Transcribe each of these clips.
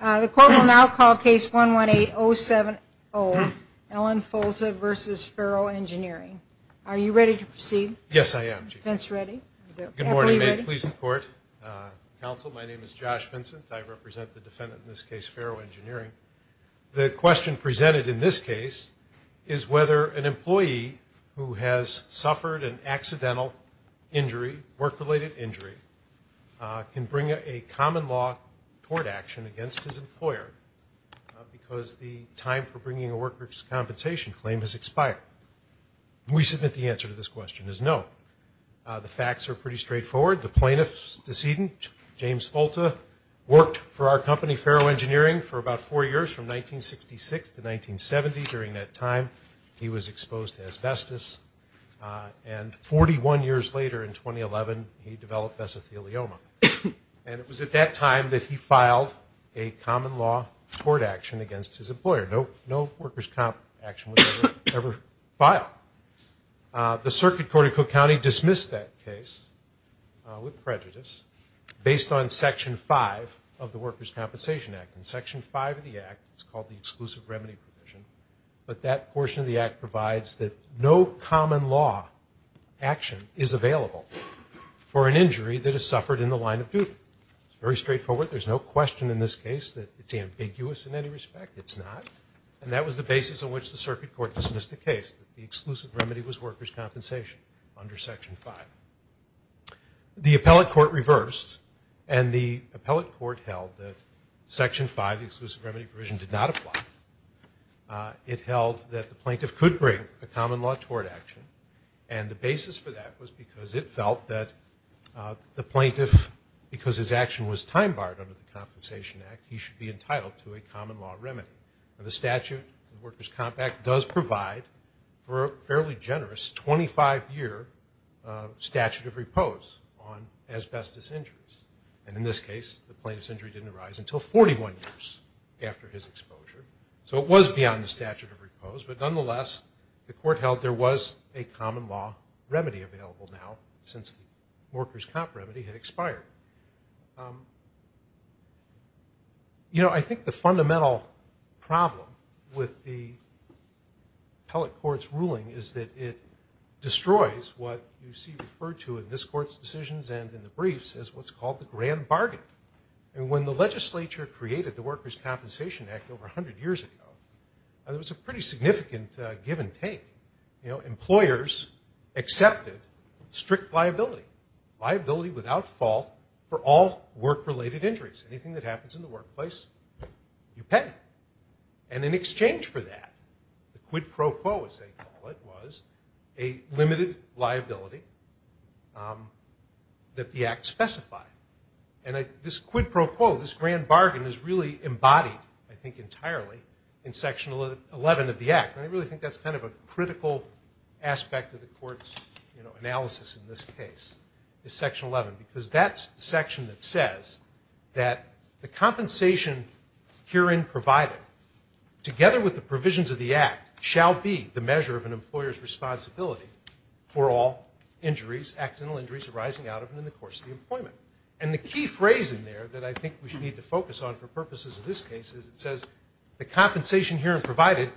The court will now call case 118070, Ellen Folta v. Ferro Engineering. Are you ready to proceed? Yes, I am. Defense ready? Good morning. May it please the court. Counsel, my name is Josh Vincent. I represent the defendant in this case, Ferro Engineering. The question presented in this case is whether an employee who has suffered an accidental injury, work-related injury, can bring a common law court action against his employer because the time for bringing a worker's compensation claim has expired. We submit the answer to this question is no. The facts are pretty straightforward. The plaintiff's decedent, James Folta, worked for our company, Ferro Engineering, for about four years from 1966 to 1970. During that time, he was exposed to asbestos. And 41 years later, in 2011, he developed vesithelioma. And it was at that time that he filed a common law court action against his employer. No worker's comp action was ever filed. The Circuit Court of Cook County dismissed that case with prejudice based on Section 5 of the Worker's Compensation Act. And Section 5 of the Act, it's called the Exclusive Remedy Provision, but that portion of the Act provides that no common law action is available for an injury that has suffered in the line of duty. It's very straightforward. There's no question in this case that it's ambiguous in any respect. It's not. And that was the basis on which the Circuit Court dismissed the case, that the exclusive remedy was worker's compensation under Section 5. The appellate court reversed, and the appellate court held that Section 5, the Exclusive Remedy Provision, did not apply. It held that the plaintiff could bring a common law tort action. And the basis for that was because it felt that the plaintiff, because his action was time barred under the Compensation Act, he should be entitled to a common law remedy. The statute, the Worker's Comp Act, does provide for a fairly generous 25-year statute of repose on asbestos injuries. And in this case, the plaintiff's injury didn't arise until 41 years after his exposure. So it was beyond the statute of repose. But nonetheless, the court held there was a common law remedy available now since the worker's comp remedy had expired. You know, I think the fundamental problem with the appellate court's ruling is that it destroys what you see referred to in this court's decisions and in the briefs as what's called the grand bargain. And when the legislature created the Worker's Compensation Act over 100 years ago, it was a pretty significant give and take. You know, employers accepted strict liability, liability without fault for all work-related injuries. Anything that happens in the workplace, you pay. And in exchange for that, the quid pro quo, as they call it, was a limited liability that the Act specified. And this quid pro quo, this grand bargain, is really embodied, I think entirely, in Section 11 of the Act. And I really think that's kind of a critical aspect of the court's analysis in this case, is Section 11, because that's the section that says that the compensation herein provided, together with the provisions of the Act, shall be the measure of an employer's responsibility for all injuries, accidental injuries arising out of and in the course of the employment. And the key phrase in there that I think we should need to focus on for purposes of this case is it says, the compensation herein provided,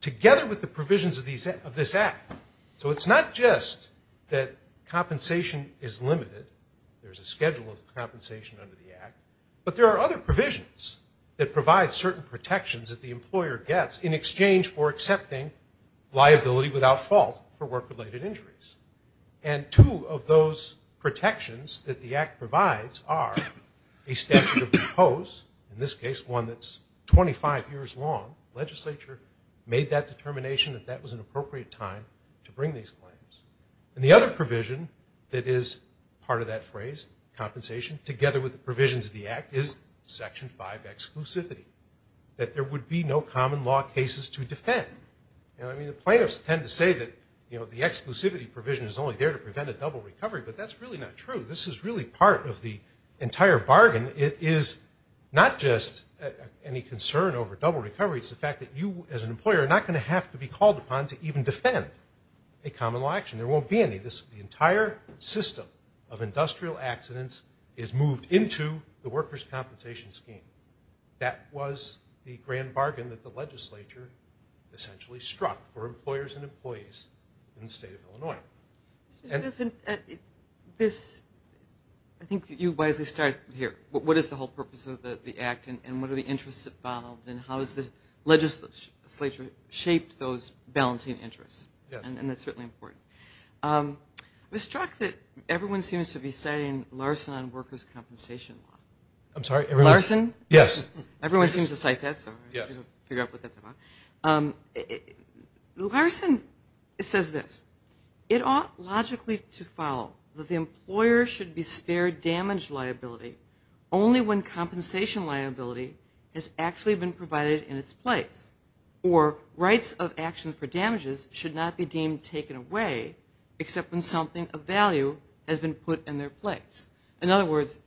together with the provisions of this Act. So it's not just that compensation is limited. There's a schedule of compensation under the Act. But there are other provisions that provide certain protections that the employer gets in exchange for accepting liability without fault for work-related injuries. And two of those protections that the Act provides are a statute of due post, in this case one that's 25 years long. The legislature made that determination that that was an appropriate time to bring these claims. And the other provision that is part of that phrase, compensation, together with the provisions of the Act, is Section 5, exclusivity, that there would be no common law cases to defend. You know, I mean, the plaintiffs tend to say that, you know, the exclusivity provision is only there to prevent a double recovery, but that's really not true. This is really part of the entire bargain. It is not just any concern over double recovery. It's the fact that you, as an employer, are not going to have to be called upon to even defend a common law action. There won't be any. The entire system of industrial accidents is moved into the workers' compensation scheme. That was the grand bargain that the legislature essentially struck for employers and employees in the State of Illinois. I think you wisely started here. What is the whole purpose of the Act, and what are the interests involved, and how has the legislature shaped those balancing interests? And that's certainly important. I was struck that everyone seems to be citing Larson on workers' compensation law. I'm sorry? Larson? Yes. Everyone seems to cite that, so I figure out what that's about. Larson says this. It ought logically to follow that the employer should be spared damage liability only when compensation liability has actually been provided in its place, or rights of action for damages should not be deemed taken away except when something of value has been put in their place. In other words,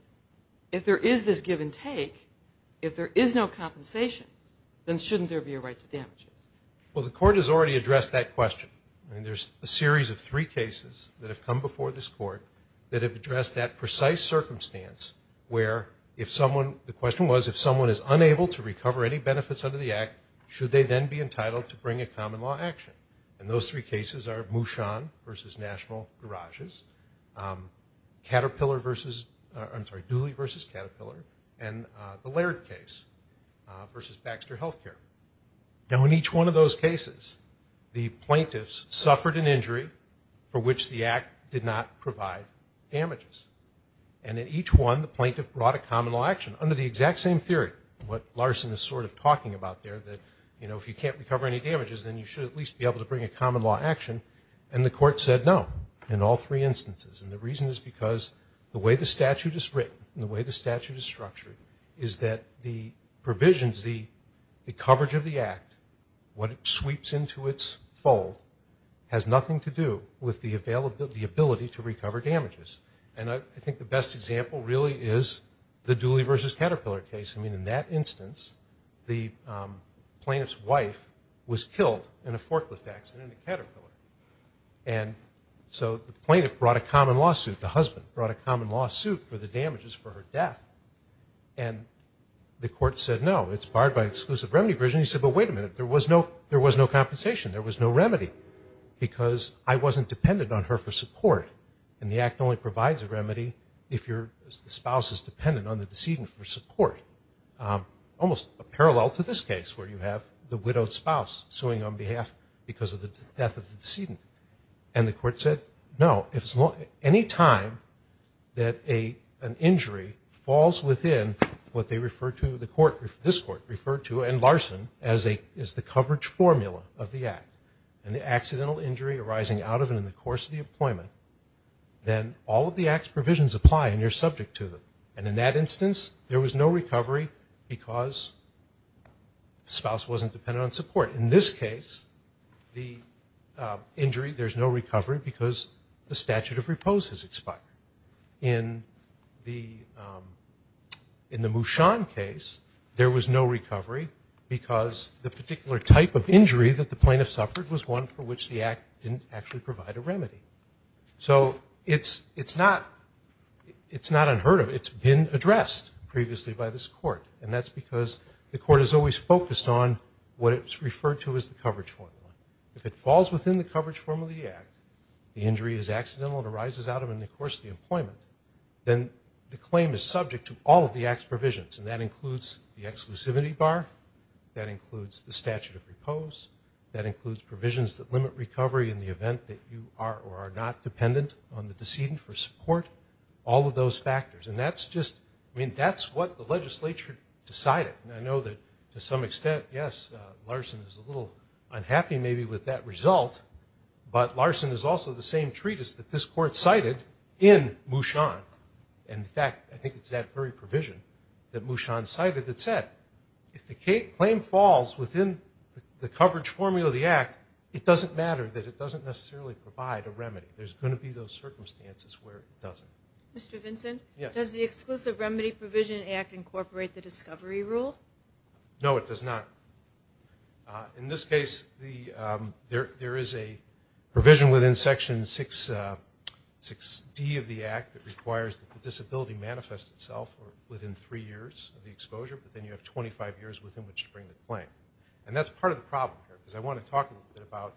if there is this give and take, if there is no compensation, then shouldn't there be a right to damages? Well, the Court has already addressed that question. I mean, there's a series of three cases that have come before this Court that have addressed that precise circumstance where if someone – the question was if someone is unable to recover any benefits under the Act, should they then be entitled to bring a common law action? And those three cases are Mushon v. National Garages, Caterpillar v. – Now, in each one of those cases, the plaintiffs suffered an injury for which the Act did not provide damages. And in each one, the plaintiff brought a common law action under the exact same theory, what Larson is sort of talking about there, that if you can't recover any damages, then you should at least be able to bring a common law action. And the Court said no in all three instances. And the reason is because the way the statute is written and the way the statute is structured is that the provisions, the coverage of the Act, what it sweeps into its fold, has nothing to do with the ability to recover damages. And I think the best example really is the Dooley v. Caterpillar case. I mean, in that instance, the plaintiff's wife was killed in a forklift accident in Caterpillar. And so the plaintiff brought a common lawsuit. The husband brought a common lawsuit for the damages for her death. And the Court said no. It's barred by exclusive remedy provision. He said, well, wait a minute, there was no compensation. There was no remedy because I wasn't dependent on her for support. And the Act only provides a remedy if your spouse is dependent on the decedent for support, almost a parallel to this case where you have the widowed spouse suing on behalf because of the death of the decedent. And the Court said no. Any time that an injury falls within what they refer to, the Court, this Court referred to, and Larson, as the coverage formula of the Act, an accidental injury arising out of and in the course of the employment, then all of the Act's provisions apply and you're subject to them. And in that instance, there was no recovery because the spouse wasn't dependent on support. In this case, the injury, there's no recovery because the statute of repose has expired. In the Mushan case, there was no recovery because the particular type of injury that the plaintiff suffered was one for which the Act didn't actually provide a remedy. So it's not unheard of. It's been addressed previously by this Court. And that's because the Court has always focused on what it's referred to as the coverage formula. If it falls within the coverage formula of the Act, the injury is accidental and arises out of and in the course of the employment, then the claim is subject to all of the Act's provisions, and that includes the exclusivity bar, that includes the statute of repose, that includes provisions that limit recovery in the event that you are or are not dependent on the decedent for support, all of those factors. And that's just, I mean, that's what the legislature decided. And I know that to some extent, yes, Larson is a little unhappy maybe with that result, but Larson is also the same treatise that this Court cited in Mushan. In fact, I think it's that very provision that Mushan cited that said, if the claim falls within the coverage formula of the Act, it doesn't matter that it doesn't necessarily provide a remedy. There's going to be those circumstances where it doesn't. Mr. Vincent? Yes. Does the Exclusive Remedy Provision Act incorporate the discovery rule? No, it does not. In this case, there is a provision within Section 6D of the Act that requires that the disability manifest itself within three years of the exposure, but then you have 25 years within which to bring the claim. And that's part of the problem here, because I want to talk a little bit about,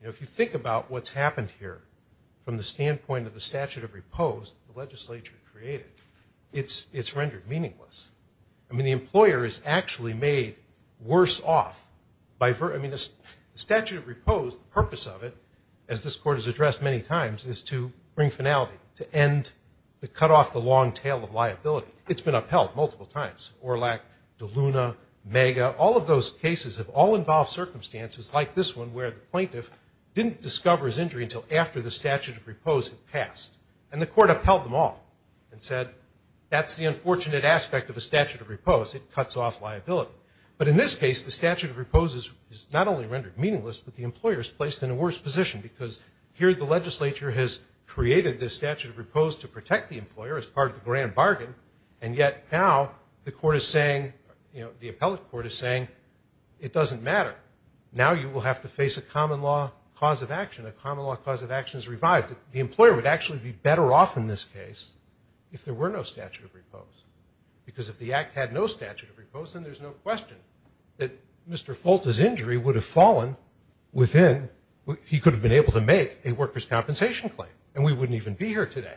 you know, if you think about what's happened here from the standpoint of the legislature created, it's rendered meaningless. I mean, the employer is actually made worse off. I mean, the statute of repose, the purpose of it, as this Court has addressed many times, is to bring finality, to end the cutoff, the long tail of liability. It's been upheld multiple times. Orlack, DeLuna, Mega, all of those cases have all involved circumstances, like this one where the plaintiff didn't discover his injury until after the statute of repose had passed. And the Court upheld them all and said, that's the unfortunate aspect of a statute of repose. It cuts off liability. But in this case, the statute of repose is not only rendered meaningless, but the employer is placed in a worse position, because here the legislature has created this statute of repose to protect the employer as part of the grand bargain, and yet now the Court is saying, you know, the appellate Court is saying, it doesn't matter. Now you will have to face a common law cause of action. A common law cause of action is revived. The employer would actually be better off in this case if there were no statute of repose. Because if the Act had no statute of repose, then there's no question that Mr. Folta's injury would have fallen within what he could have been able to make, a worker's compensation claim, and we wouldn't even be here today.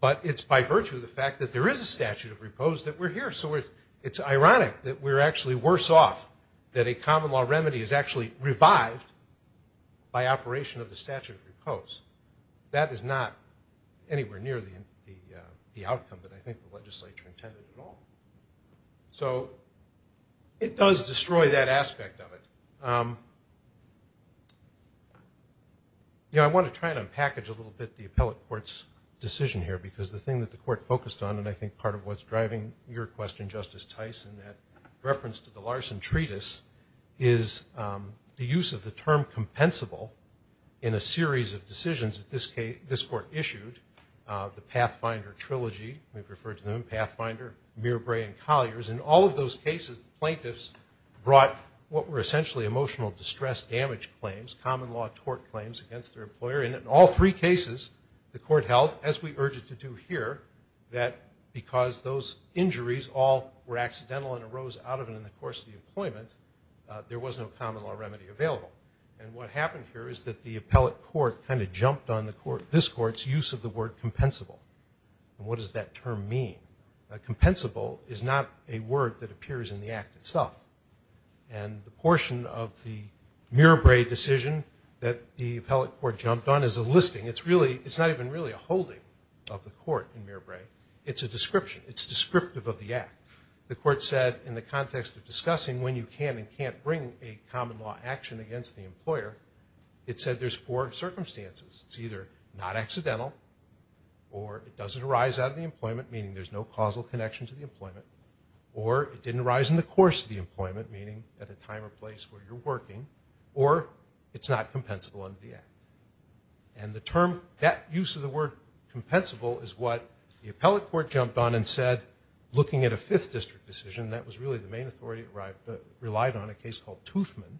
But it's by virtue of the fact that there is a statute of repose that we're here. So it's ironic that we're actually worse off, that a common law remedy is actually revived by operation of the statute of repose. That is not anywhere near the outcome that I think the legislature intended at all. So it does destroy that aspect of it. You know, I want to try to package a little bit the appellate Court's decision here, because the thing that the Court focused on, and I think part of what's driving your question, Justice Tice, in that reference to the Larson Treatise, is the use of the term compensable in a series of decisions that this Court issued, the Pathfinder Trilogy, we've referred to them, Pathfinder, Mirabre, and Colliers. In all of those cases, plaintiffs brought what were essentially emotional distress damage claims, common law tort claims against their employer. And in all three cases, the Court held, as we urge it to do here, that because those injuries all were accidental and arose out of it in the course of the employment, there was no common law remedy available. And what happened here is that the appellate Court kind of jumped on this Court's use of the word compensable. And what does that term mean? Compensable is not a word that appears in the Act itself. And the portion of the Mirabre decision that the appellate Court jumped on is a listing. It's not even really a holding of the Court in Mirabre. It's a description. It's descriptive of the Act. The Court said in the context of discussing when you can and can't bring a common law action against the employer, it said there's four circumstances. It's either not accidental or it doesn't arise out of the employment, meaning there's no causal connection to the employment, or it didn't arise in the course of the employment, meaning at a time or place where you're working, or it's not compensable under the Act. And the term, that use of the word compensable is what the appellate Court jumped on and said, looking at a Fifth District decision, that was really the main authority that relied on a case called Toothman,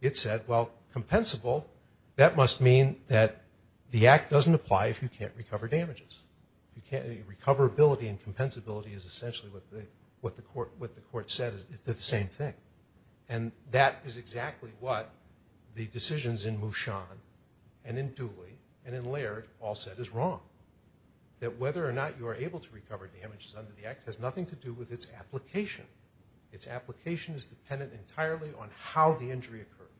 it said, well, compensable, that must mean that the Act doesn't apply if you can't recover damages. Recoverability and compensability is essentially what the Court said. They're the same thing. And that is exactly what the decisions in Mushan and in Dooley and in Laird all said is wrong, that whether or not you are able to recover damages under the Act has nothing to do with its application. Its application is dependent entirely on how the injury occurred,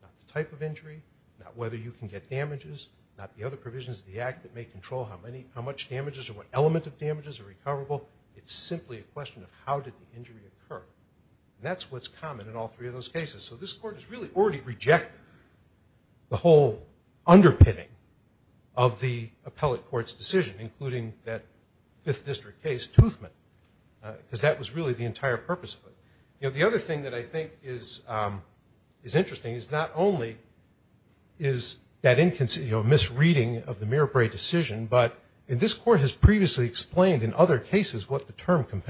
not the type of injury, not whether you can get damages, not the other provisions of the Act that may control how much damages or what element of damages are recoverable. It's simply a question of how did the injury occur. And that's what's common in all three of those cases. So this Court has really already rejected the whole underpinning of the appellate Court's decision, including that Fifth District case, Toothman, because that was really the entire purpose of it. The other thing that I think is interesting is not only is that misreading of the Mirabre decision, but this Court has previously explained in other cases what the term Sostrom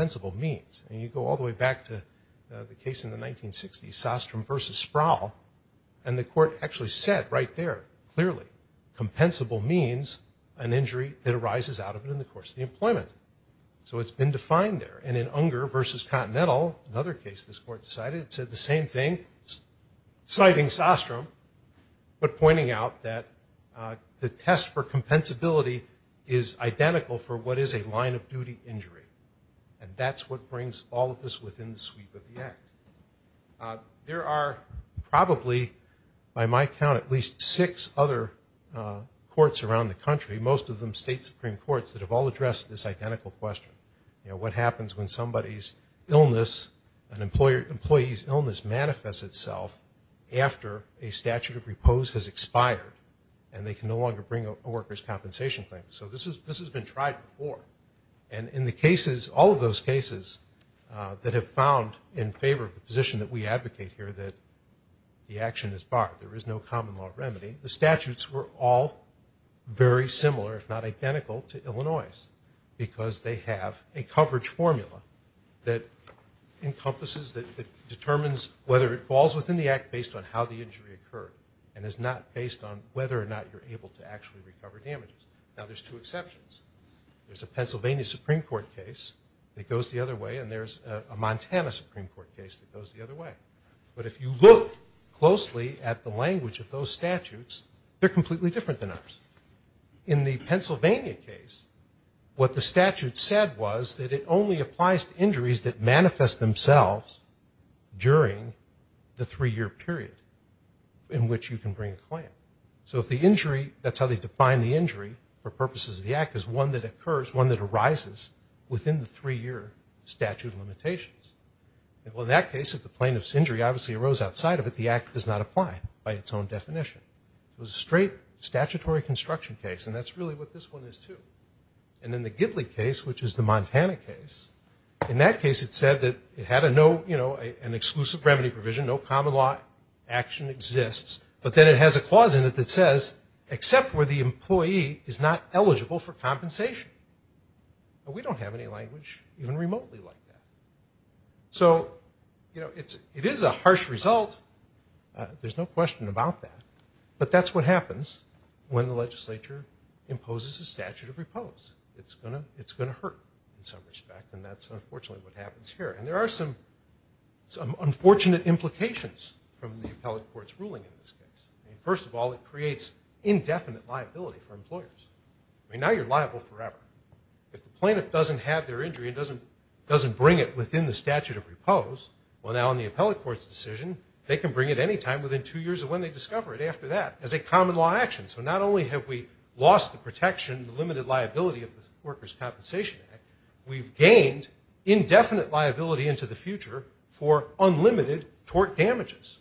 versus Sproul, and the Court actually said right there clearly compensable means an injury that arises out of it in the course of the employment. So it's been defined there. And in Unger versus Continental, another case this Court decided, it said the same thing, citing Sostrom, but pointing out that the test for compensability is identical for what is a line of duty injury. And that's what brings all of this within the sweep of the Act. There are probably, by my count, at least six other courts around the country, most of them State Supreme Courts, that have all addressed this identical question. You know, what happens when somebody's illness, an employee's illness manifests itself after a statute of repose has expired and they can no longer bring a worker's compensation claim. So this has been tried before. And in the cases, all of those cases that have found in favor of the position that we advocate here that the action is barred, there is no common law remedy, the statutes were all very similar, if not identical, to Illinois, because they have a coverage formula that encompasses, that determines whether it falls within the Act based on how the injury occurred and is not based on whether or not you're able to actually recover damages. Now, there's two exceptions. There's a Pennsylvania Supreme Court case that goes the other way, and there's a Montana Supreme Court case that goes the other way. But if you look closely at the language of those statutes, they're completely different than ours. In the Pennsylvania case, what the statute said was that it only applies to injuries that manifest themselves during the three-year period in which you can bring a claim. So if the injury, that's how they define the injury for purposes of the Act, is one that occurs, one that arises within the three-year statute of limitations. Well, in that case, if the plaintiff's injury obviously arose outside of it, the Act does not apply by its own definition. It was a straight statutory construction case, and that's really what this one is too. And in the Gidley case, which is the Montana case, in that case it said that it had an exclusive remedy provision, no common law action exists, but then it has a clause in it that says, except where the employee is not eligible for compensation. We don't have any language even remotely like that. So, you know, it is a harsh result. There's no question about that. But that's what happens when the legislature imposes a statute of repose. It's going to hurt in some respect, and that's unfortunately what happens here. And there are some unfortunate implications from the appellate court's ruling in this case. First of all, it creates indefinite liability for employers. I mean, now you're liable forever. If the plaintiff doesn't have their injury and doesn't bring it within the statute of repose, well, now in the appellate court's decision, they can bring it any time within two years of when they discover it after that as a common law action. So not only have we lost the protection, the limited liability of the Workers' Compensation Act, we've gained indefinite liability into the future for unlimited tort damages.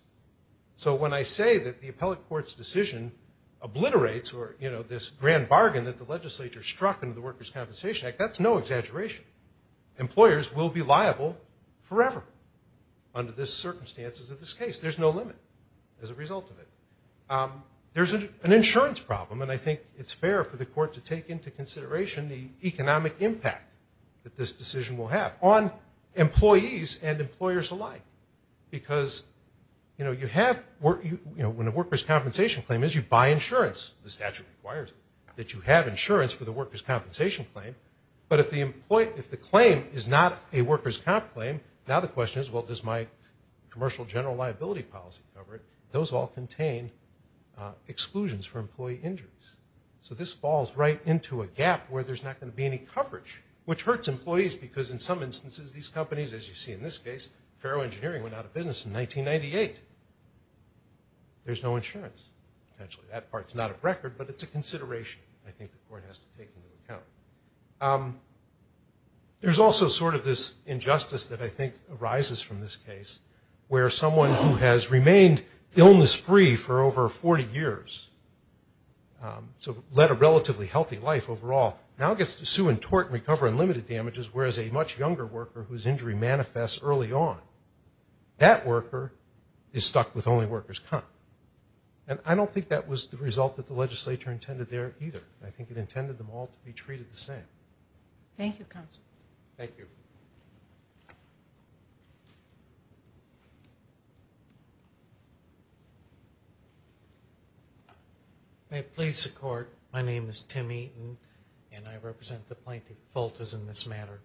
So when I say that the appellate court's decision obliterates or, you know, this grand bargain that the legislature struck under the Workers' Compensation Act, that's no exaggeration. Employers will be liable forever under the circumstances of this case. There's no limit as a result of it. There's an insurance problem, and I think it's fair for the court to take into consideration the economic impact that this decision will have on employees and employers alike. Because, you know, when a workers' compensation claim is, you buy insurance. The statute requires that you have insurance for the workers' compensation claim. But if the claim is not a workers' comp claim, now the question is, well, does my commercial general liability policy cover it? Those all contain exclusions for employee injuries. So this falls right into a gap where there's not going to be any coverage, which hurts employees because, in some instances, these companies, as you see in this case, Ferro Engineering went out of business in 1998. There's no insurance. Actually, that part's not a record, but it's a consideration I think the court has to take into account. There's also sort of this injustice that I think arises from this case where someone who has remained illness-free for over 40 years to lead a relatively healthy life overall now gets to sue and tort and recover in limited damages, whereas a much younger worker whose injury manifests early on, that worker is stuck with only workers' comp. And I don't think that was the result that the legislature intended there either. I think it intended them all to be treated the same. Thank you, counsel. Thank you. May it please the court. My name is Tim Eaton, and I represent the plaintiff, Fultz, in this matter.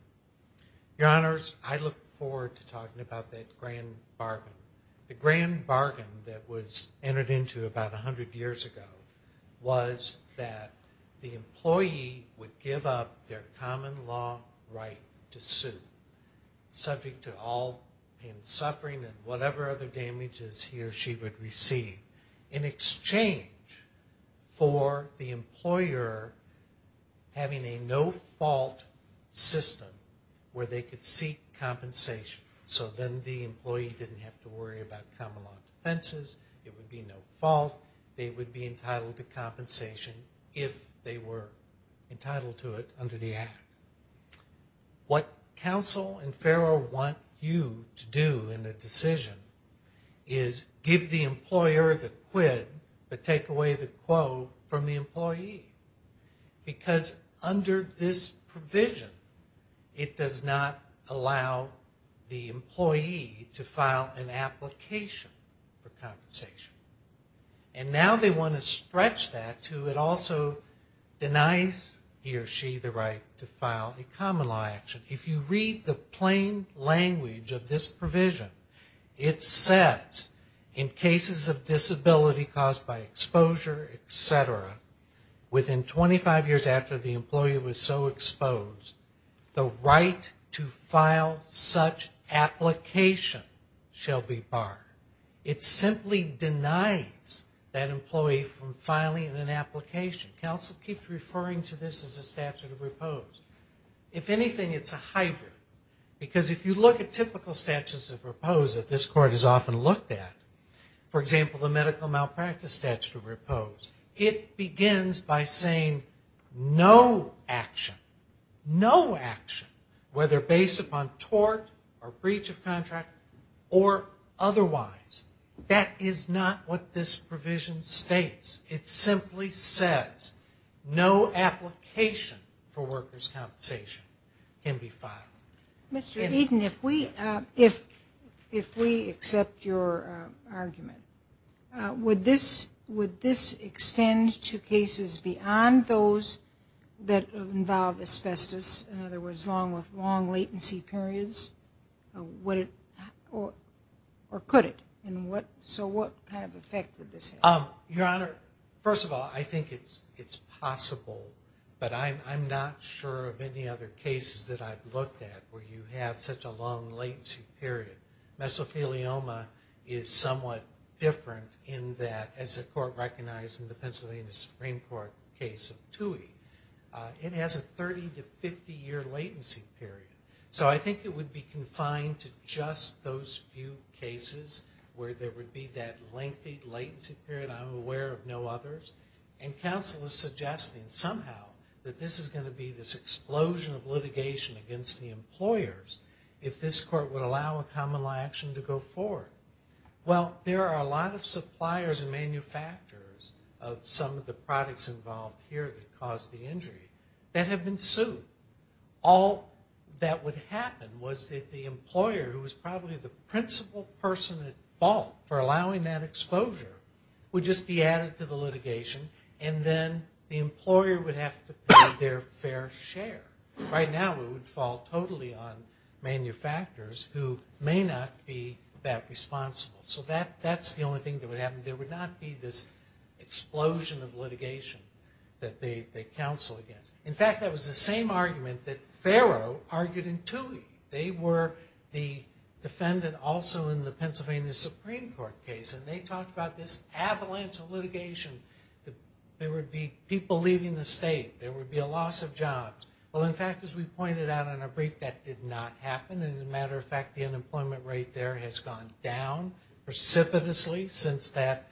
Your Honors, I look forward to talking about that grand bargain. The grand bargain that was entered into about 100 years ago was that the employee would give up their common law right to sue, subject to all pain and suffering and whatever other damages he or she would receive, in exchange for the employer having a no-fault system where they could seek compensation. So then the employee didn't have to worry about common law defenses. It would be no fault. They would be entitled to compensation if they were entitled to it under the Act. What counsel and FARO want you to do in a decision is give the employer the quid but take away the quote from the employee. Because under this provision, it does not allow the employee to file an application for compensation. And now they want to stretch that to it also denies he or she the right to file a common law action. If you read the plain language of this provision, it says, in cases of disability caused by exposure, et cetera, within 25 years after the employee was so exposed, the right to file such application shall be barred. It simply denies that employee from filing an application. Counsel keeps referring to this as a statute of repose. If anything, it's a hybrid. Because if you look at typical statutes of repose that this Court has often looked at, for example, the medical malpractice statute of repose, it begins by saying no action, no action, whether based upon tort or breach of contract or otherwise. That is not what this provision states. It simply says no application for workers' compensation can be filed. Mr. Eden, if we accept your argument, would this extend to cases beyond those that involve asbestos, in other words long latency periods, or could it? So what kind of effect would this have? Your Honor, first of all, I think it's possible, but I'm not sure of any other cases that I've looked at where you have such a long latency period. Mesothelioma is somewhat different in that, as the Court recognized in the Pennsylvania Supreme Court case of Tuohy, it has a 30 to 50-year latency period. So I think it would be confined to just those few cases where there would be that lengthy latency period. I'm aware of no others. And counsel is suggesting somehow that this is going to be this explosion of litigation against the employers if this Court would allow a common law action to go forward. Well, there are a lot of suppliers and manufacturers of some of the products involved here that caused the injury that have been sued. All that would happen was that the employer, who was probably the principal person at fault for allowing that exposure, would just be added to the litigation, and then the employer would have to pay their fair share. Right now it would fall totally on manufacturers who may not be that responsible. So that's the only thing that would happen. There would not be this explosion of litigation that they counsel against. In fact, that was the same argument that Farrow argued in Tuohy. They were the defendant also in the Pennsylvania Supreme Court case, and they talked about this avalanche of litigation. There would be people leaving the state. There would be a loss of jobs. Well, in fact, as we pointed out in our brief, that did not happen. And as a matter of fact, the unemployment rate there has gone down precipitously since that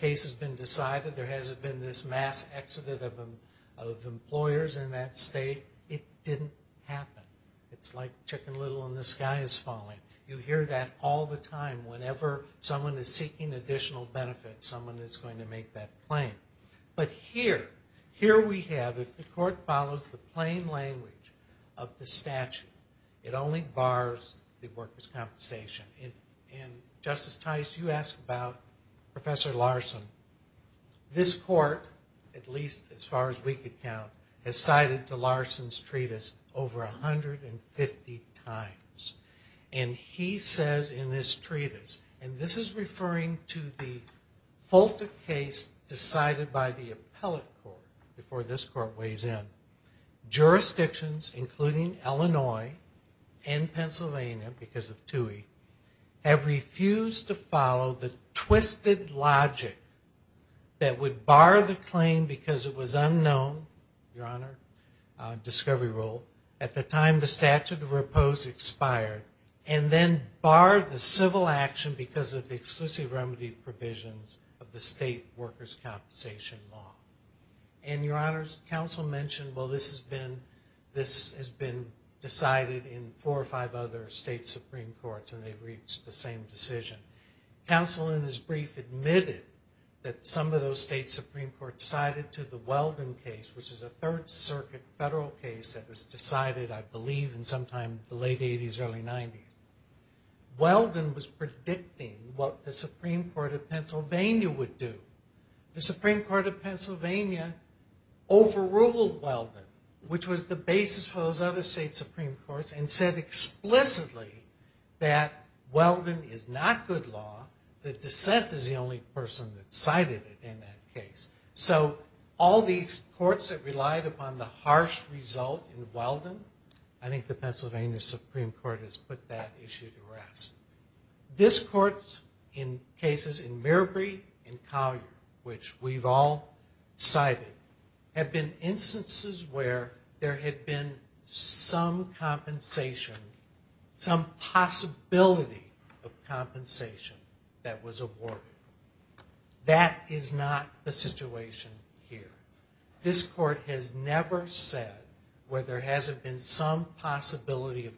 case has been decided. There hasn't been this mass exodus of employers in that state. It didn't happen. It's like chicken little in the sky is falling. You hear that all the time. Whenever someone is seeking additional benefits, someone is going to make that claim. But here, here we have, if the court follows the plain language of the statute, it only bars the workers' compensation. And, Justice Tice, you asked about Professor Larson. This court, at least as far as we could count, has cited to Larson's treatise over 150 times. And he says in this treatise, and this is referring to the FOLTA case decided by the appellate court before this court weighs in, jurisdictions, including Illinois and Pennsylvania because of TUI, have refused to follow the twisted logic that would bar the claim because it was unknown, Your Honor, discovery rule, at the time the statute of repose expired, and then bar the civil action because of the exclusive remedy provisions of the state workers' compensation law. And, Your Honors, counsel mentioned, well, this has been decided in four or five other state Supreme Courts, and they've reached the same decision. Counsel in his brief admitted that some of those state Supreme Courts cited to the Weldon case, which is a Third Circuit federal case that was decided, I believe, in sometime the late 80s, early 90s. Weldon was predicting what the Supreme Court of Pennsylvania would do. The Supreme Court of Pennsylvania overruled Weldon, which was the basis for those other state Supreme Courts, and said explicitly that Weldon is not good law. The dissent is the only person that cited it in that case. So all these courts that relied upon the harsh result in Weldon, I think the Pennsylvania Supreme Court has put that issue to rest. This Court, in cases in Mirabry and Collier, which we've all cited, have been instances where there had been some compensation, some possibility of compensation that was awarded. That is not the situation here. This Court has never said where there hasn't been some possibility of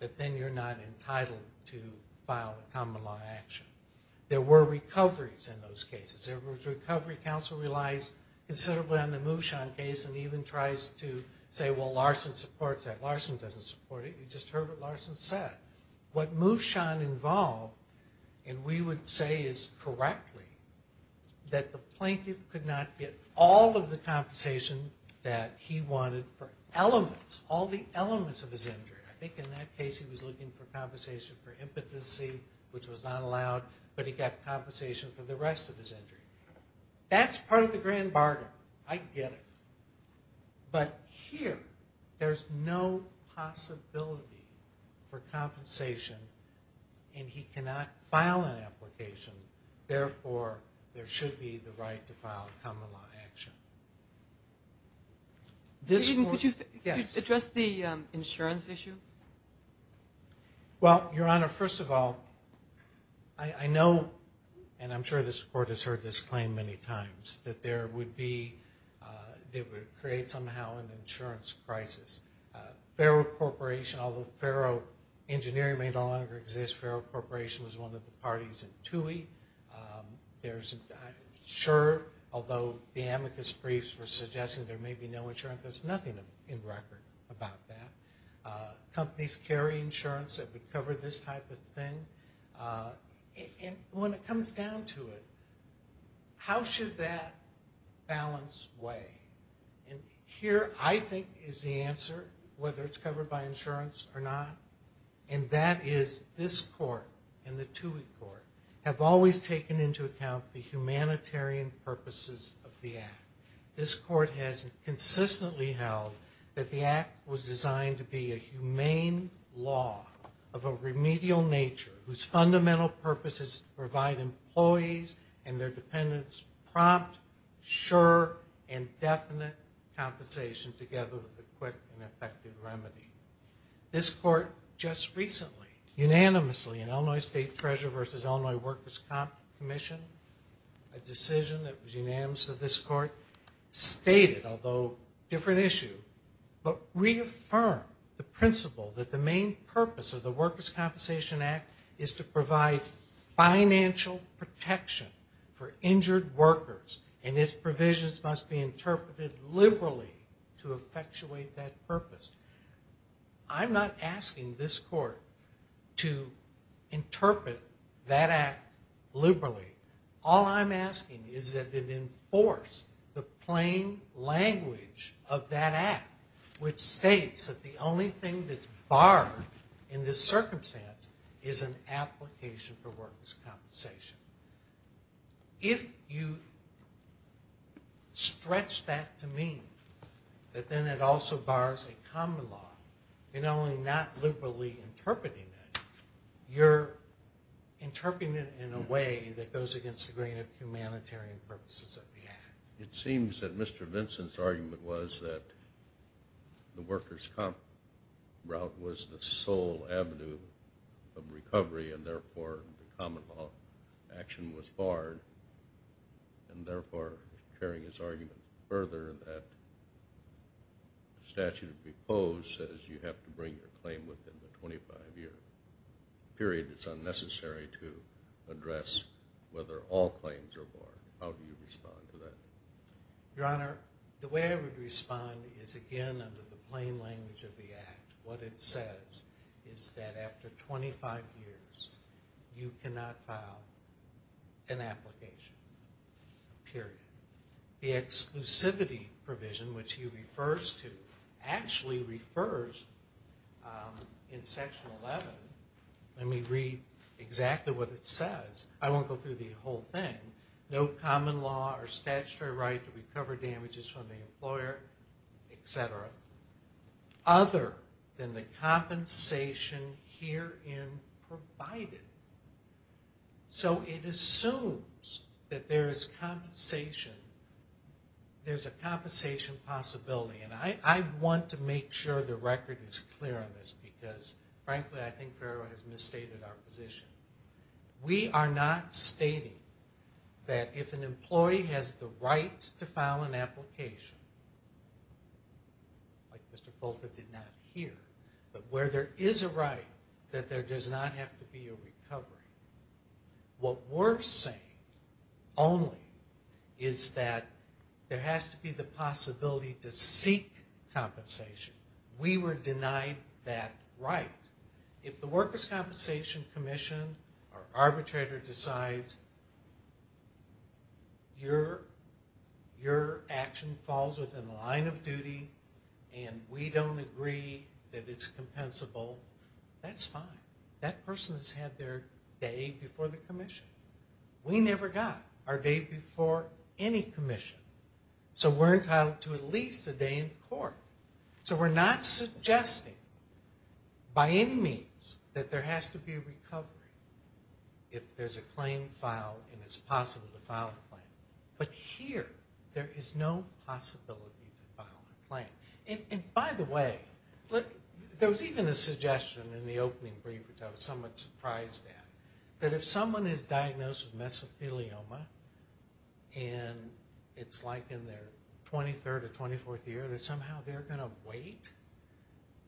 that then you're not entitled to file a common law action. There were recoveries in those cases. There were recoveries. Counsel relies considerably on the Mushan case and even tries to say, well, Larson supports that. Larson doesn't support it. You just heard what Larson said. What Mushan involved, and we would say is correctly, that the plaintiff could not get all of the compensation that he wanted for elements, all the elements of his case. In that case, he was looking for compensation for impotency, which was not allowed, but he got compensation for the rest of his injury. That's part of the grand bargain. I get it. But here, there's no possibility for compensation, and he cannot file an application. Therefore, there should be the right to file a common law action. Could you address the insurance issue? Well, Your Honor, first of all, I know, and I'm sure this Court has heard this claim many times, that there would be, they would create somehow an insurance crisis. Ferro Corporation, although Ferro Engineering may no longer exist, Ferro Corporation was one of the parties in TUI. There's, I'm sure, although the amicus briefs were suggesting there may be no insurance, there's nothing in record about that. Companies carry insurance that would cover this type of thing. And when it comes down to it, how should that balance weigh? And here, I think, is the answer, whether it's covered by insurance or not. And that is, this Court and the TUI Court have always taken into account the humanitarian purposes of the Act. This Court has consistently held that the Act was designed to be a humane law of a remedial nature whose fundamental purpose is to provide employees and their dependents prompt, sure, and definite compensation together with a quick and effective remedy. This Court just recently, unanimously, in Illinois State Treasurer versus Illinois Workers' Commission, a decision that was unanimous of this Court, stated, although different issue, but reaffirmed the principle that the main purpose of the Workers' Compensation Act is to provide financial protection for injured workers, and its provisions must be interpreted liberally to effectuate that purpose. I'm not asking this Court to interpret that Act liberally. All I'm asking is that it enforce the plain language of that Act, which states that the only thing that's barred in this circumstance is an application for workers' compensation. If you stretch that to mean that then it also bars a common law, you're not only not liberally interpreting it, you're interpreting it in a way that goes against the grain of humanitarian purposes of the Act. It seems that Mr. Vinson's argument was that the workers' comp route was the action was barred, and therefore, carrying his argument further, that the statute as proposed says you have to bring your claim within the 25-year period, it's unnecessary to address whether all claims are barred. How do you respond to that? Your Honor, the way I would respond is, again, under the plain language of the Act, an application, period. The exclusivity provision, which he refers to, actually refers in Section 11, let me read exactly what it says, I won't go through the whole thing, no common law or statutory right to recover damages from the employer, etc., other than the compensation herein provided. So it assumes that there is compensation, there's a compensation possibility, and I want to make sure the record is clear on this because, frankly, I think Farrell has misstated our position. We are not stating that if an employee has the right to file an application, like Mr. Folta did not here, but where there is a right that there does not have to be a recovery. What we're saying only is that there has to be the possibility to seek compensation. We were denied that right. If the Workers' Compensation Commission or arbitrator decides your action falls within the line of duty and we don't agree that it's compensable, that's fine. That person has had their day before the commission. We never got our day before any commission. So we're entitled to at least a day in court. So we're not suggesting by any means that there has to be a recovery if there's a claim filed and it's possible to file a claim. But here there is no possibility to file a claim. By the way, there was even a suggestion in the opening brief that I was somewhat surprised at. That if someone is diagnosed with mesothelioma and it's like in their 23rd or 24th year that somehow they're going to wait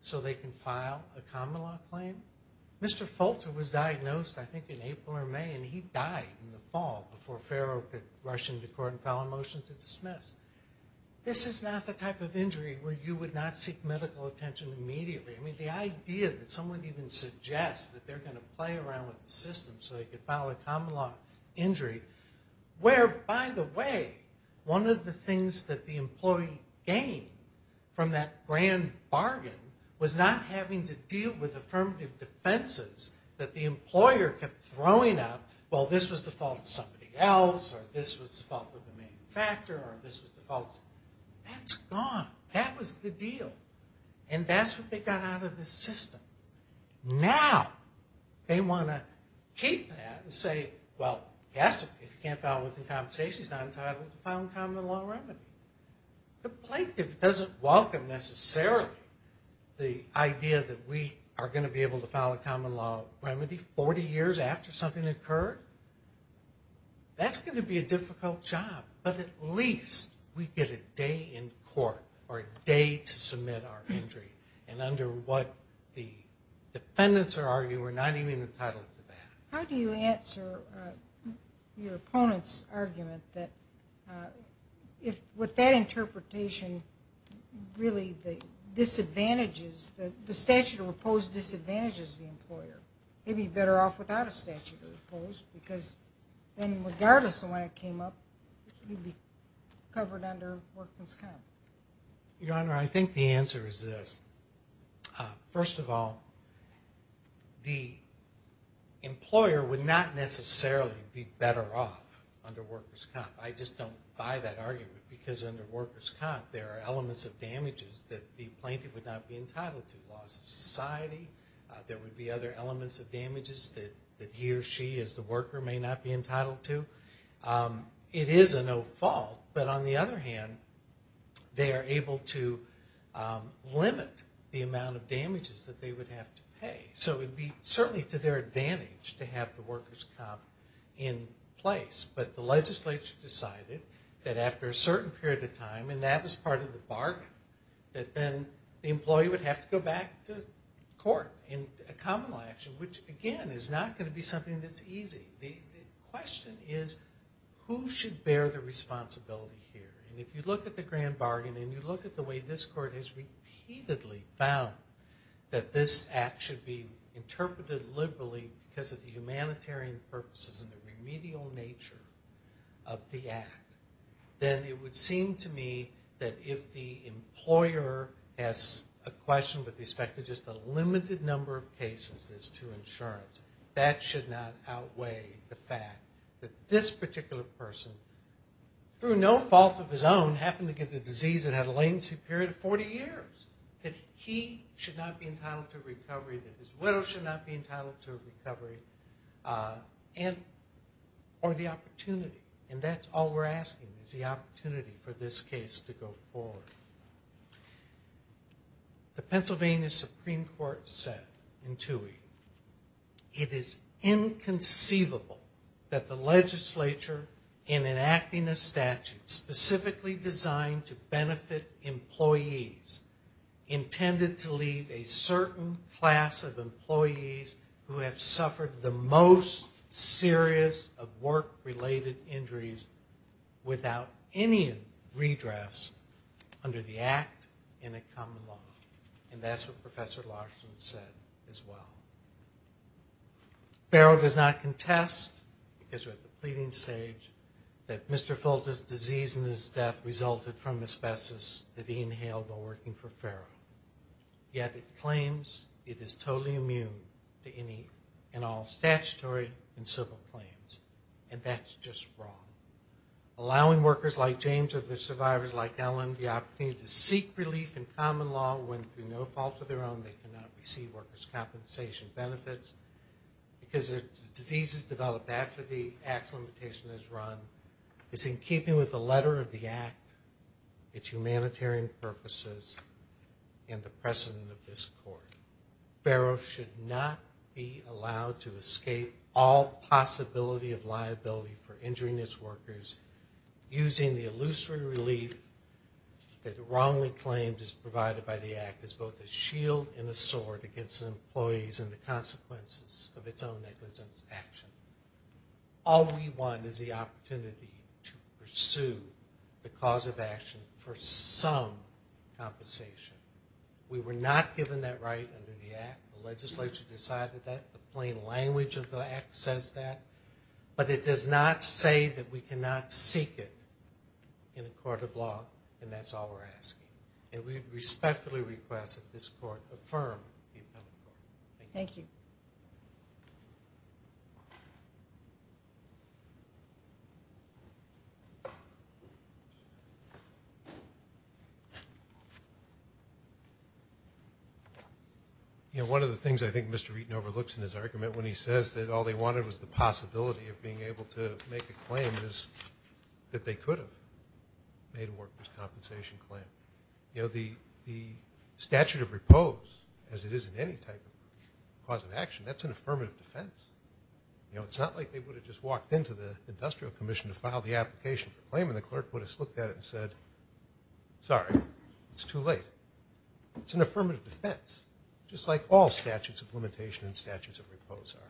so they can file a common-law claim. Mr. Folta was diagnosed, I think, in April or May and he died in the fall This is not the type of injury where you would not seek medical attention immediately. I mean, the idea that someone even suggests that they're going to play around with the system so they can file a common-law injury. Where, by the way, one of the things that the employee gained from that grand bargain was not having to deal with affirmative defenses that the employer kept throwing up. Well, this was the fault of somebody else or this was the fault of the employer. That's gone. That was the deal. And that's what they got out of the system. Now they want to keep that and say, well, if you can't file a compensation, he's not entitled to file a common-law remedy. The plaintiff doesn't welcome necessarily the idea that we are going to be able to file a common-law remedy 40 years after something occurred. That's going to be a difficult job. But at least we get a day in court or a day to submit our injury. And under what the defendants are arguing, we're not even entitled to that. How do you answer your opponent's argument that with that interpretation, really the disadvantages, the statute of opposed disadvantages the employer? He'd be better off without a statute of opposed because then regardless of when it came up, he'd be covered under workers' comp. Your Honor, I think the answer is this. First of all, the employer would not necessarily be better off under workers' comp. I just don't buy that argument because under workers' comp there are elements of damages that the plaintiff would not be entitled to. There would be other elements of damages that he or she as the worker may not be entitled to. It is a no-fault. But on the other hand, they are able to limit the amount of damages that they would have to pay. So it would be certainly to their advantage to have the workers' comp in place. But the legislature decided that after a certain period of time, and that was part of the bargain, that then the employee would have to go back to court in a common law action, which again is not going to be something that's easy. The question is who should bear the responsibility here? And if you look at the grand bargain and you look at the way this court has repeatedly found that this act should be interpreted liberally because of the humanitarian purposes and the remedial nature of the act, then it would seem to me that if the employer has a question with respect to just a limited number of cases as to insurance, that should not outweigh the fact that this particular person, through no fault of his own, happened to get the disease that had a latency period of 40 years, that he should not be entitled to a recovery, that his widow should not be entitled to a recovery, or the opportunity. And that's all we're asking is the opportunity for this case to go forward. The Pennsylvania Supreme Court said in Toohey, it is inconceivable that the legislature, in enacting a statute specifically designed to benefit employees, intended to leave a certain class of employees who have suffered the most serious of work-related injuries without any redress under the act in a common law. And that's what Professor Larson said as well. Ferrell does not contest, because we're at the pleading stage, that Mr. Fulton's disease and his death resulted from asbestos that he inhaled while working for Ferrell. Yet it claims it is totally immune to any and all statutory and civil claims. And that's just wrong. Allowing workers like James or the survivors like Ellen the opportunity to seek relief in common law when, through no fault of their own, they cannot receive workers' compensation benefits, because the disease is developed after the act's limitation is run, is in keeping with the letter of the act, its and the precedent of this court. Ferrell should not be allowed to escape all possibility of liability for injuring its workers using the illusory relief that wrongly claims is provided by the act as both a shield and a sword against employees and the consequences of its own negligence of action. All we want is the opportunity to pursue the cause of action for some compensation. We were not given that right under the act. The legislature decided that. The plain language of the act says that. But it does not say that we cannot seek it in a court of law, and that's all we're asking. And we respectfully request that this court affirm the appeal. Thank you. Thank you. One of the things I think Mr. Wheaton overlooks in his argument when he says that all they wanted was the possibility of being able to make a claim is that they could have made a workers' compensation claim. The statute of repose, as it is in any type of cause of action, that's an affirmative defense. It's not like they would have just walked into the industrial commission to file the application for a claim and the clerk would have looked at it and said, sorry, it's too late. It's an affirmative defense, just like all statutes of limitation and statutes of repose are.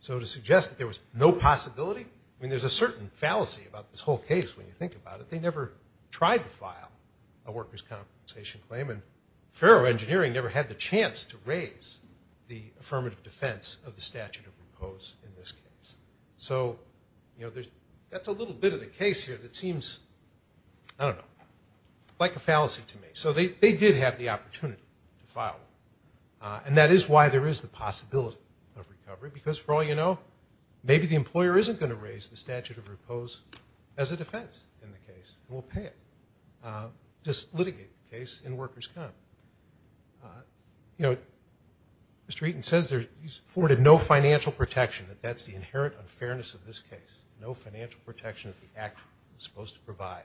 So to suggest that there was no possibility, I mean, there's a certain fallacy about this whole case when you think about it. They never tried to file a workers' compensation claim, and Ferro Engineering never had the chance to raise the affirmative defense of the statute of repose in this case. So that's a little bit of the case here that seems, I don't know, like a fallacy to me. So they did have the opportunity to file it, and that is why there is the possibility of recovery, because for all you know, maybe the employer isn't going to raise the statute of repose as a defense in the case, and we'll pay it. Just litigate the case in workers' comp. You know, Mr. Eaton says he's afforded no financial protection, that that's the inherent unfairness of this case, no financial protection that the act was supposed to provide.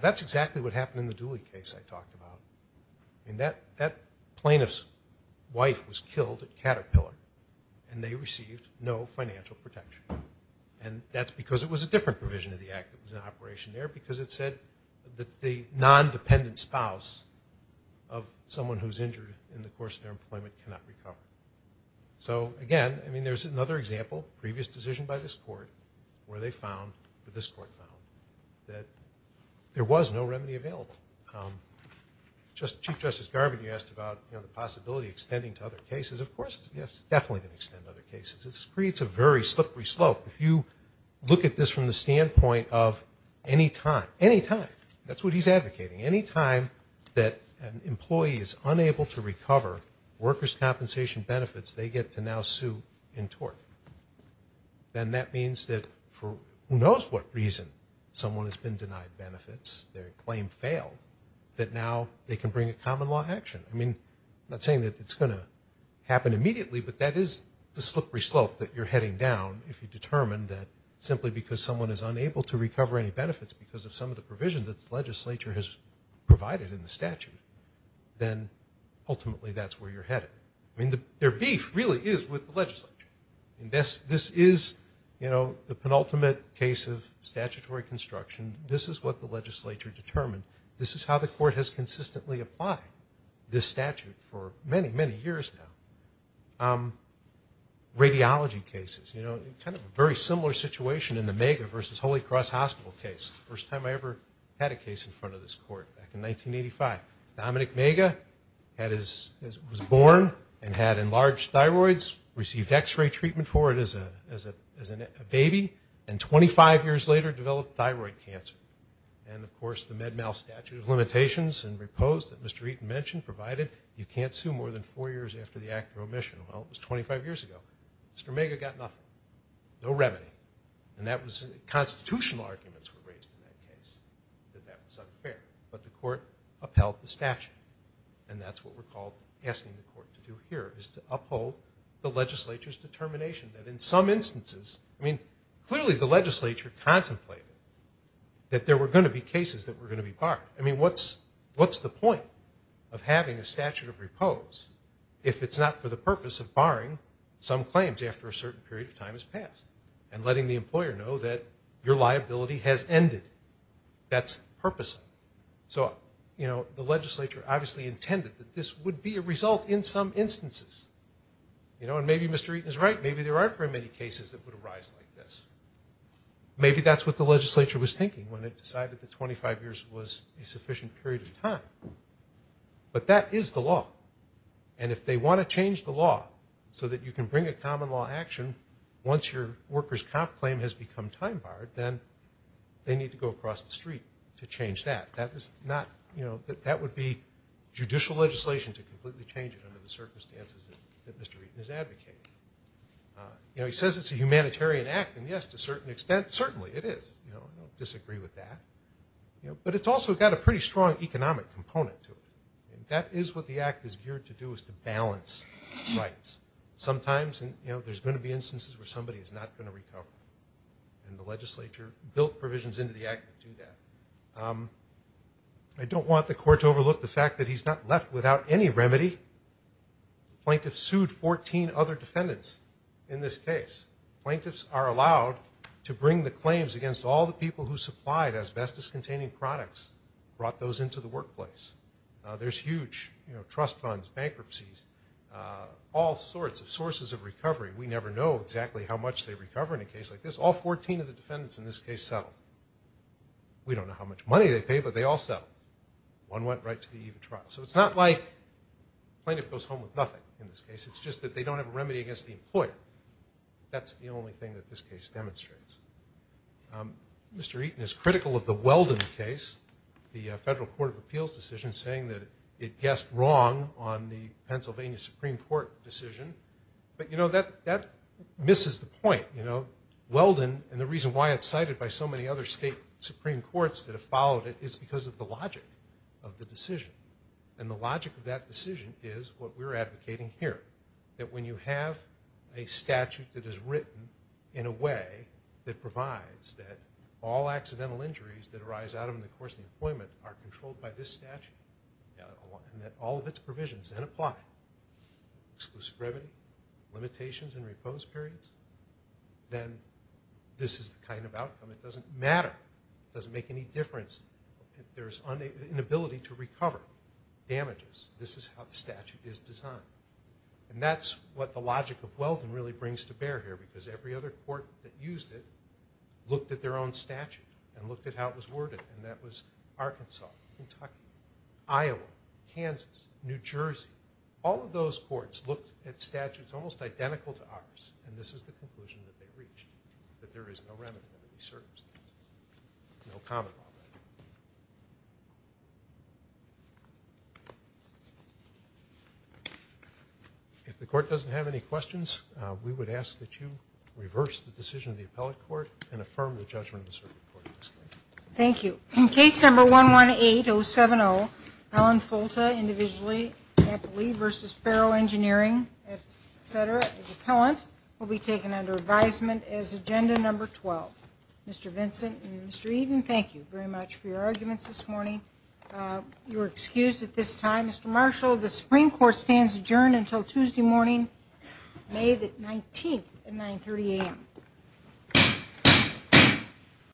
That's exactly what happened in the Dooley case I talked about. I mean, that plaintiff's wife was killed at Caterpillar, and they received no financial protection. And that's because it was a different provision of the act that was in place, because it said that the non-dependent spouse of someone who's injured in the course of their employment cannot recover. So, again, I mean, there's another example, a previous decision by this court where they found, or this court found, that there was no remedy available. Chief Justice Garvin, you asked about, you know, the possibility of extending to other cases. Of course it's definitely going to extend to other cases. It creates a very slippery slope. If you look at this from the standpoint of any time, any time, that's what he's advocating, any time that an employee is unable to recover workers' compensation benefits, they get to now sue in tort. Then that means that for who knows what reason someone has been denied benefits, their claim failed, that now they can bring a common law action. I mean, I'm not saying that it's going to happen immediately, but that is the slippery slope that you're heading down if you determine that simply because someone is unable to recover any benefits because of some of the provision that the legislature has provided in the statute, then ultimately that's where you're headed. I mean, their beef really is with the legislature. This is, you know, the penultimate case of statutory construction. This is what the legislature determined. This is how the court has consistently applied this statute for many, many years now. Radiology cases, you know, kind of a very similar situation in the Mega versus Holy Cross Hospital case. First time I ever had a case in front of this court back in 1985. Dominic Mega was born and had enlarged thyroids, received X-ray treatment for it as a baby, and 25 years later developed thyroid cancer. And, of course, the Med-Mal statute of limitations and repose that Mr. Eaton mentioned provided you can't sue more than four years after the act of admission. Well, it was 25 years ago. Mr. Mega got nothing. No remedy. And that was constitutional arguments were raised in that case that that was unfair. But the court upheld the statute. And that's what we're asking the court to do here is to uphold the legislature's determination that in some instances, I mean, clearly the legislature contemplated that there were going to be cases that were going to be parked. I mean, what's the point of having a statute of repose if it's not for the purpose of barring some claims after a certain period of time has passed and letting the employer know that your liability has ended? That's purposive. So, you know, the legislature obviously intended that this would be a result in some instances. You know, and maybe Mr. Eaton is right. Maybe there aren't very many cases that would arise like this. Maybe that's what the legislature was thinking when it decided that 25 years was a sufficient period of time. But that is the law. And if they want to change the law so that you can bring a common law action once your worker's comp claim has become time barred, then they need to go across the street to change that. That is not, you know, that would be judicial legislation to completely change it under the circumstances that Mr. Eaton is advocating. You know, he says it's a humanitarian act. And, yes, to a certain extent, certainly it is. You know, I don't disagree with that. But it's also got a pretty strong economic component to it. And that is what the act is geared to do is to balance rights. Sometimes, you know, there's going to be instances where somebody is not going to recover. And the legislature built provisions into the act to do that. I don't want the court to overlook the fact that he's not left without any remedy. Plaintiffs sued 14 other defendants in this case. Plaintiffs are allowed to bring the claims against all the people who supplied asbestos-containing products, brought those into the workplace. There's huge, you know, trust funds, bankruptcies, all sorts of sources of recovery. We never know exactly how much they recover in a case like this. All 14 of the defendants in this case settled. We don't know how much money they paid, but they all settled. One went right to the eve of trial. So it's not like plaintiff goes home with nothing in this case. It's just that they don't have a remedy against the employer. That's the only thing that this case demonstrates. Mr. Eaton is critical of the Weldon case, the Federal Court of Appeals decision, saying that it guessed wrong on the Pennsylvania Supreme Court decision. But, you know, that misses the point. You know, Weldon and the reason why it's cited by so many other state Supreme Courts that have followed it is because of the logic of the decision. And the logic of that decision is what we're advocating here, that when you have a statute that is written in a way that provides that all accidental injuries that arise out of the course of employment are controlled by this statute and that all of its provisions then apply, exclusive remedy, limitations and repose periods, then this is the kind of outcome. It doesn't matter. It doesn't make any difference. If there's an inability to recover damages, this is how the statute is designed. And that's what the logic of Weldon really brings to bear here because every other court that used it looked at their own statute and looked at how it was worded. And that was Arkansas, Kentucky, Iowa, Kansas, New Jersey. All of those courts looked at statutes almost identical to ours, and this is the conclusion that they reached, that there is no remedy to these circumstances. No comment on that. If the court doesn't have any questions, we would ask that you reverse the decision of the appellate court and affirm the judgment of the circuit court. Thank you. In case number 118070, Allen Folta, individually, happily, versus Ferrell Engineering, et cetera, as appellant will be taken under advisement as agenda number 12. Mr. Vincent and Mr. Eden, thank you very much for your arguments this morning. You are excused at this time. Mr. Marshall, the Supreme Court stands adjourned until Tuesday morning, May 19th at 930 a.m.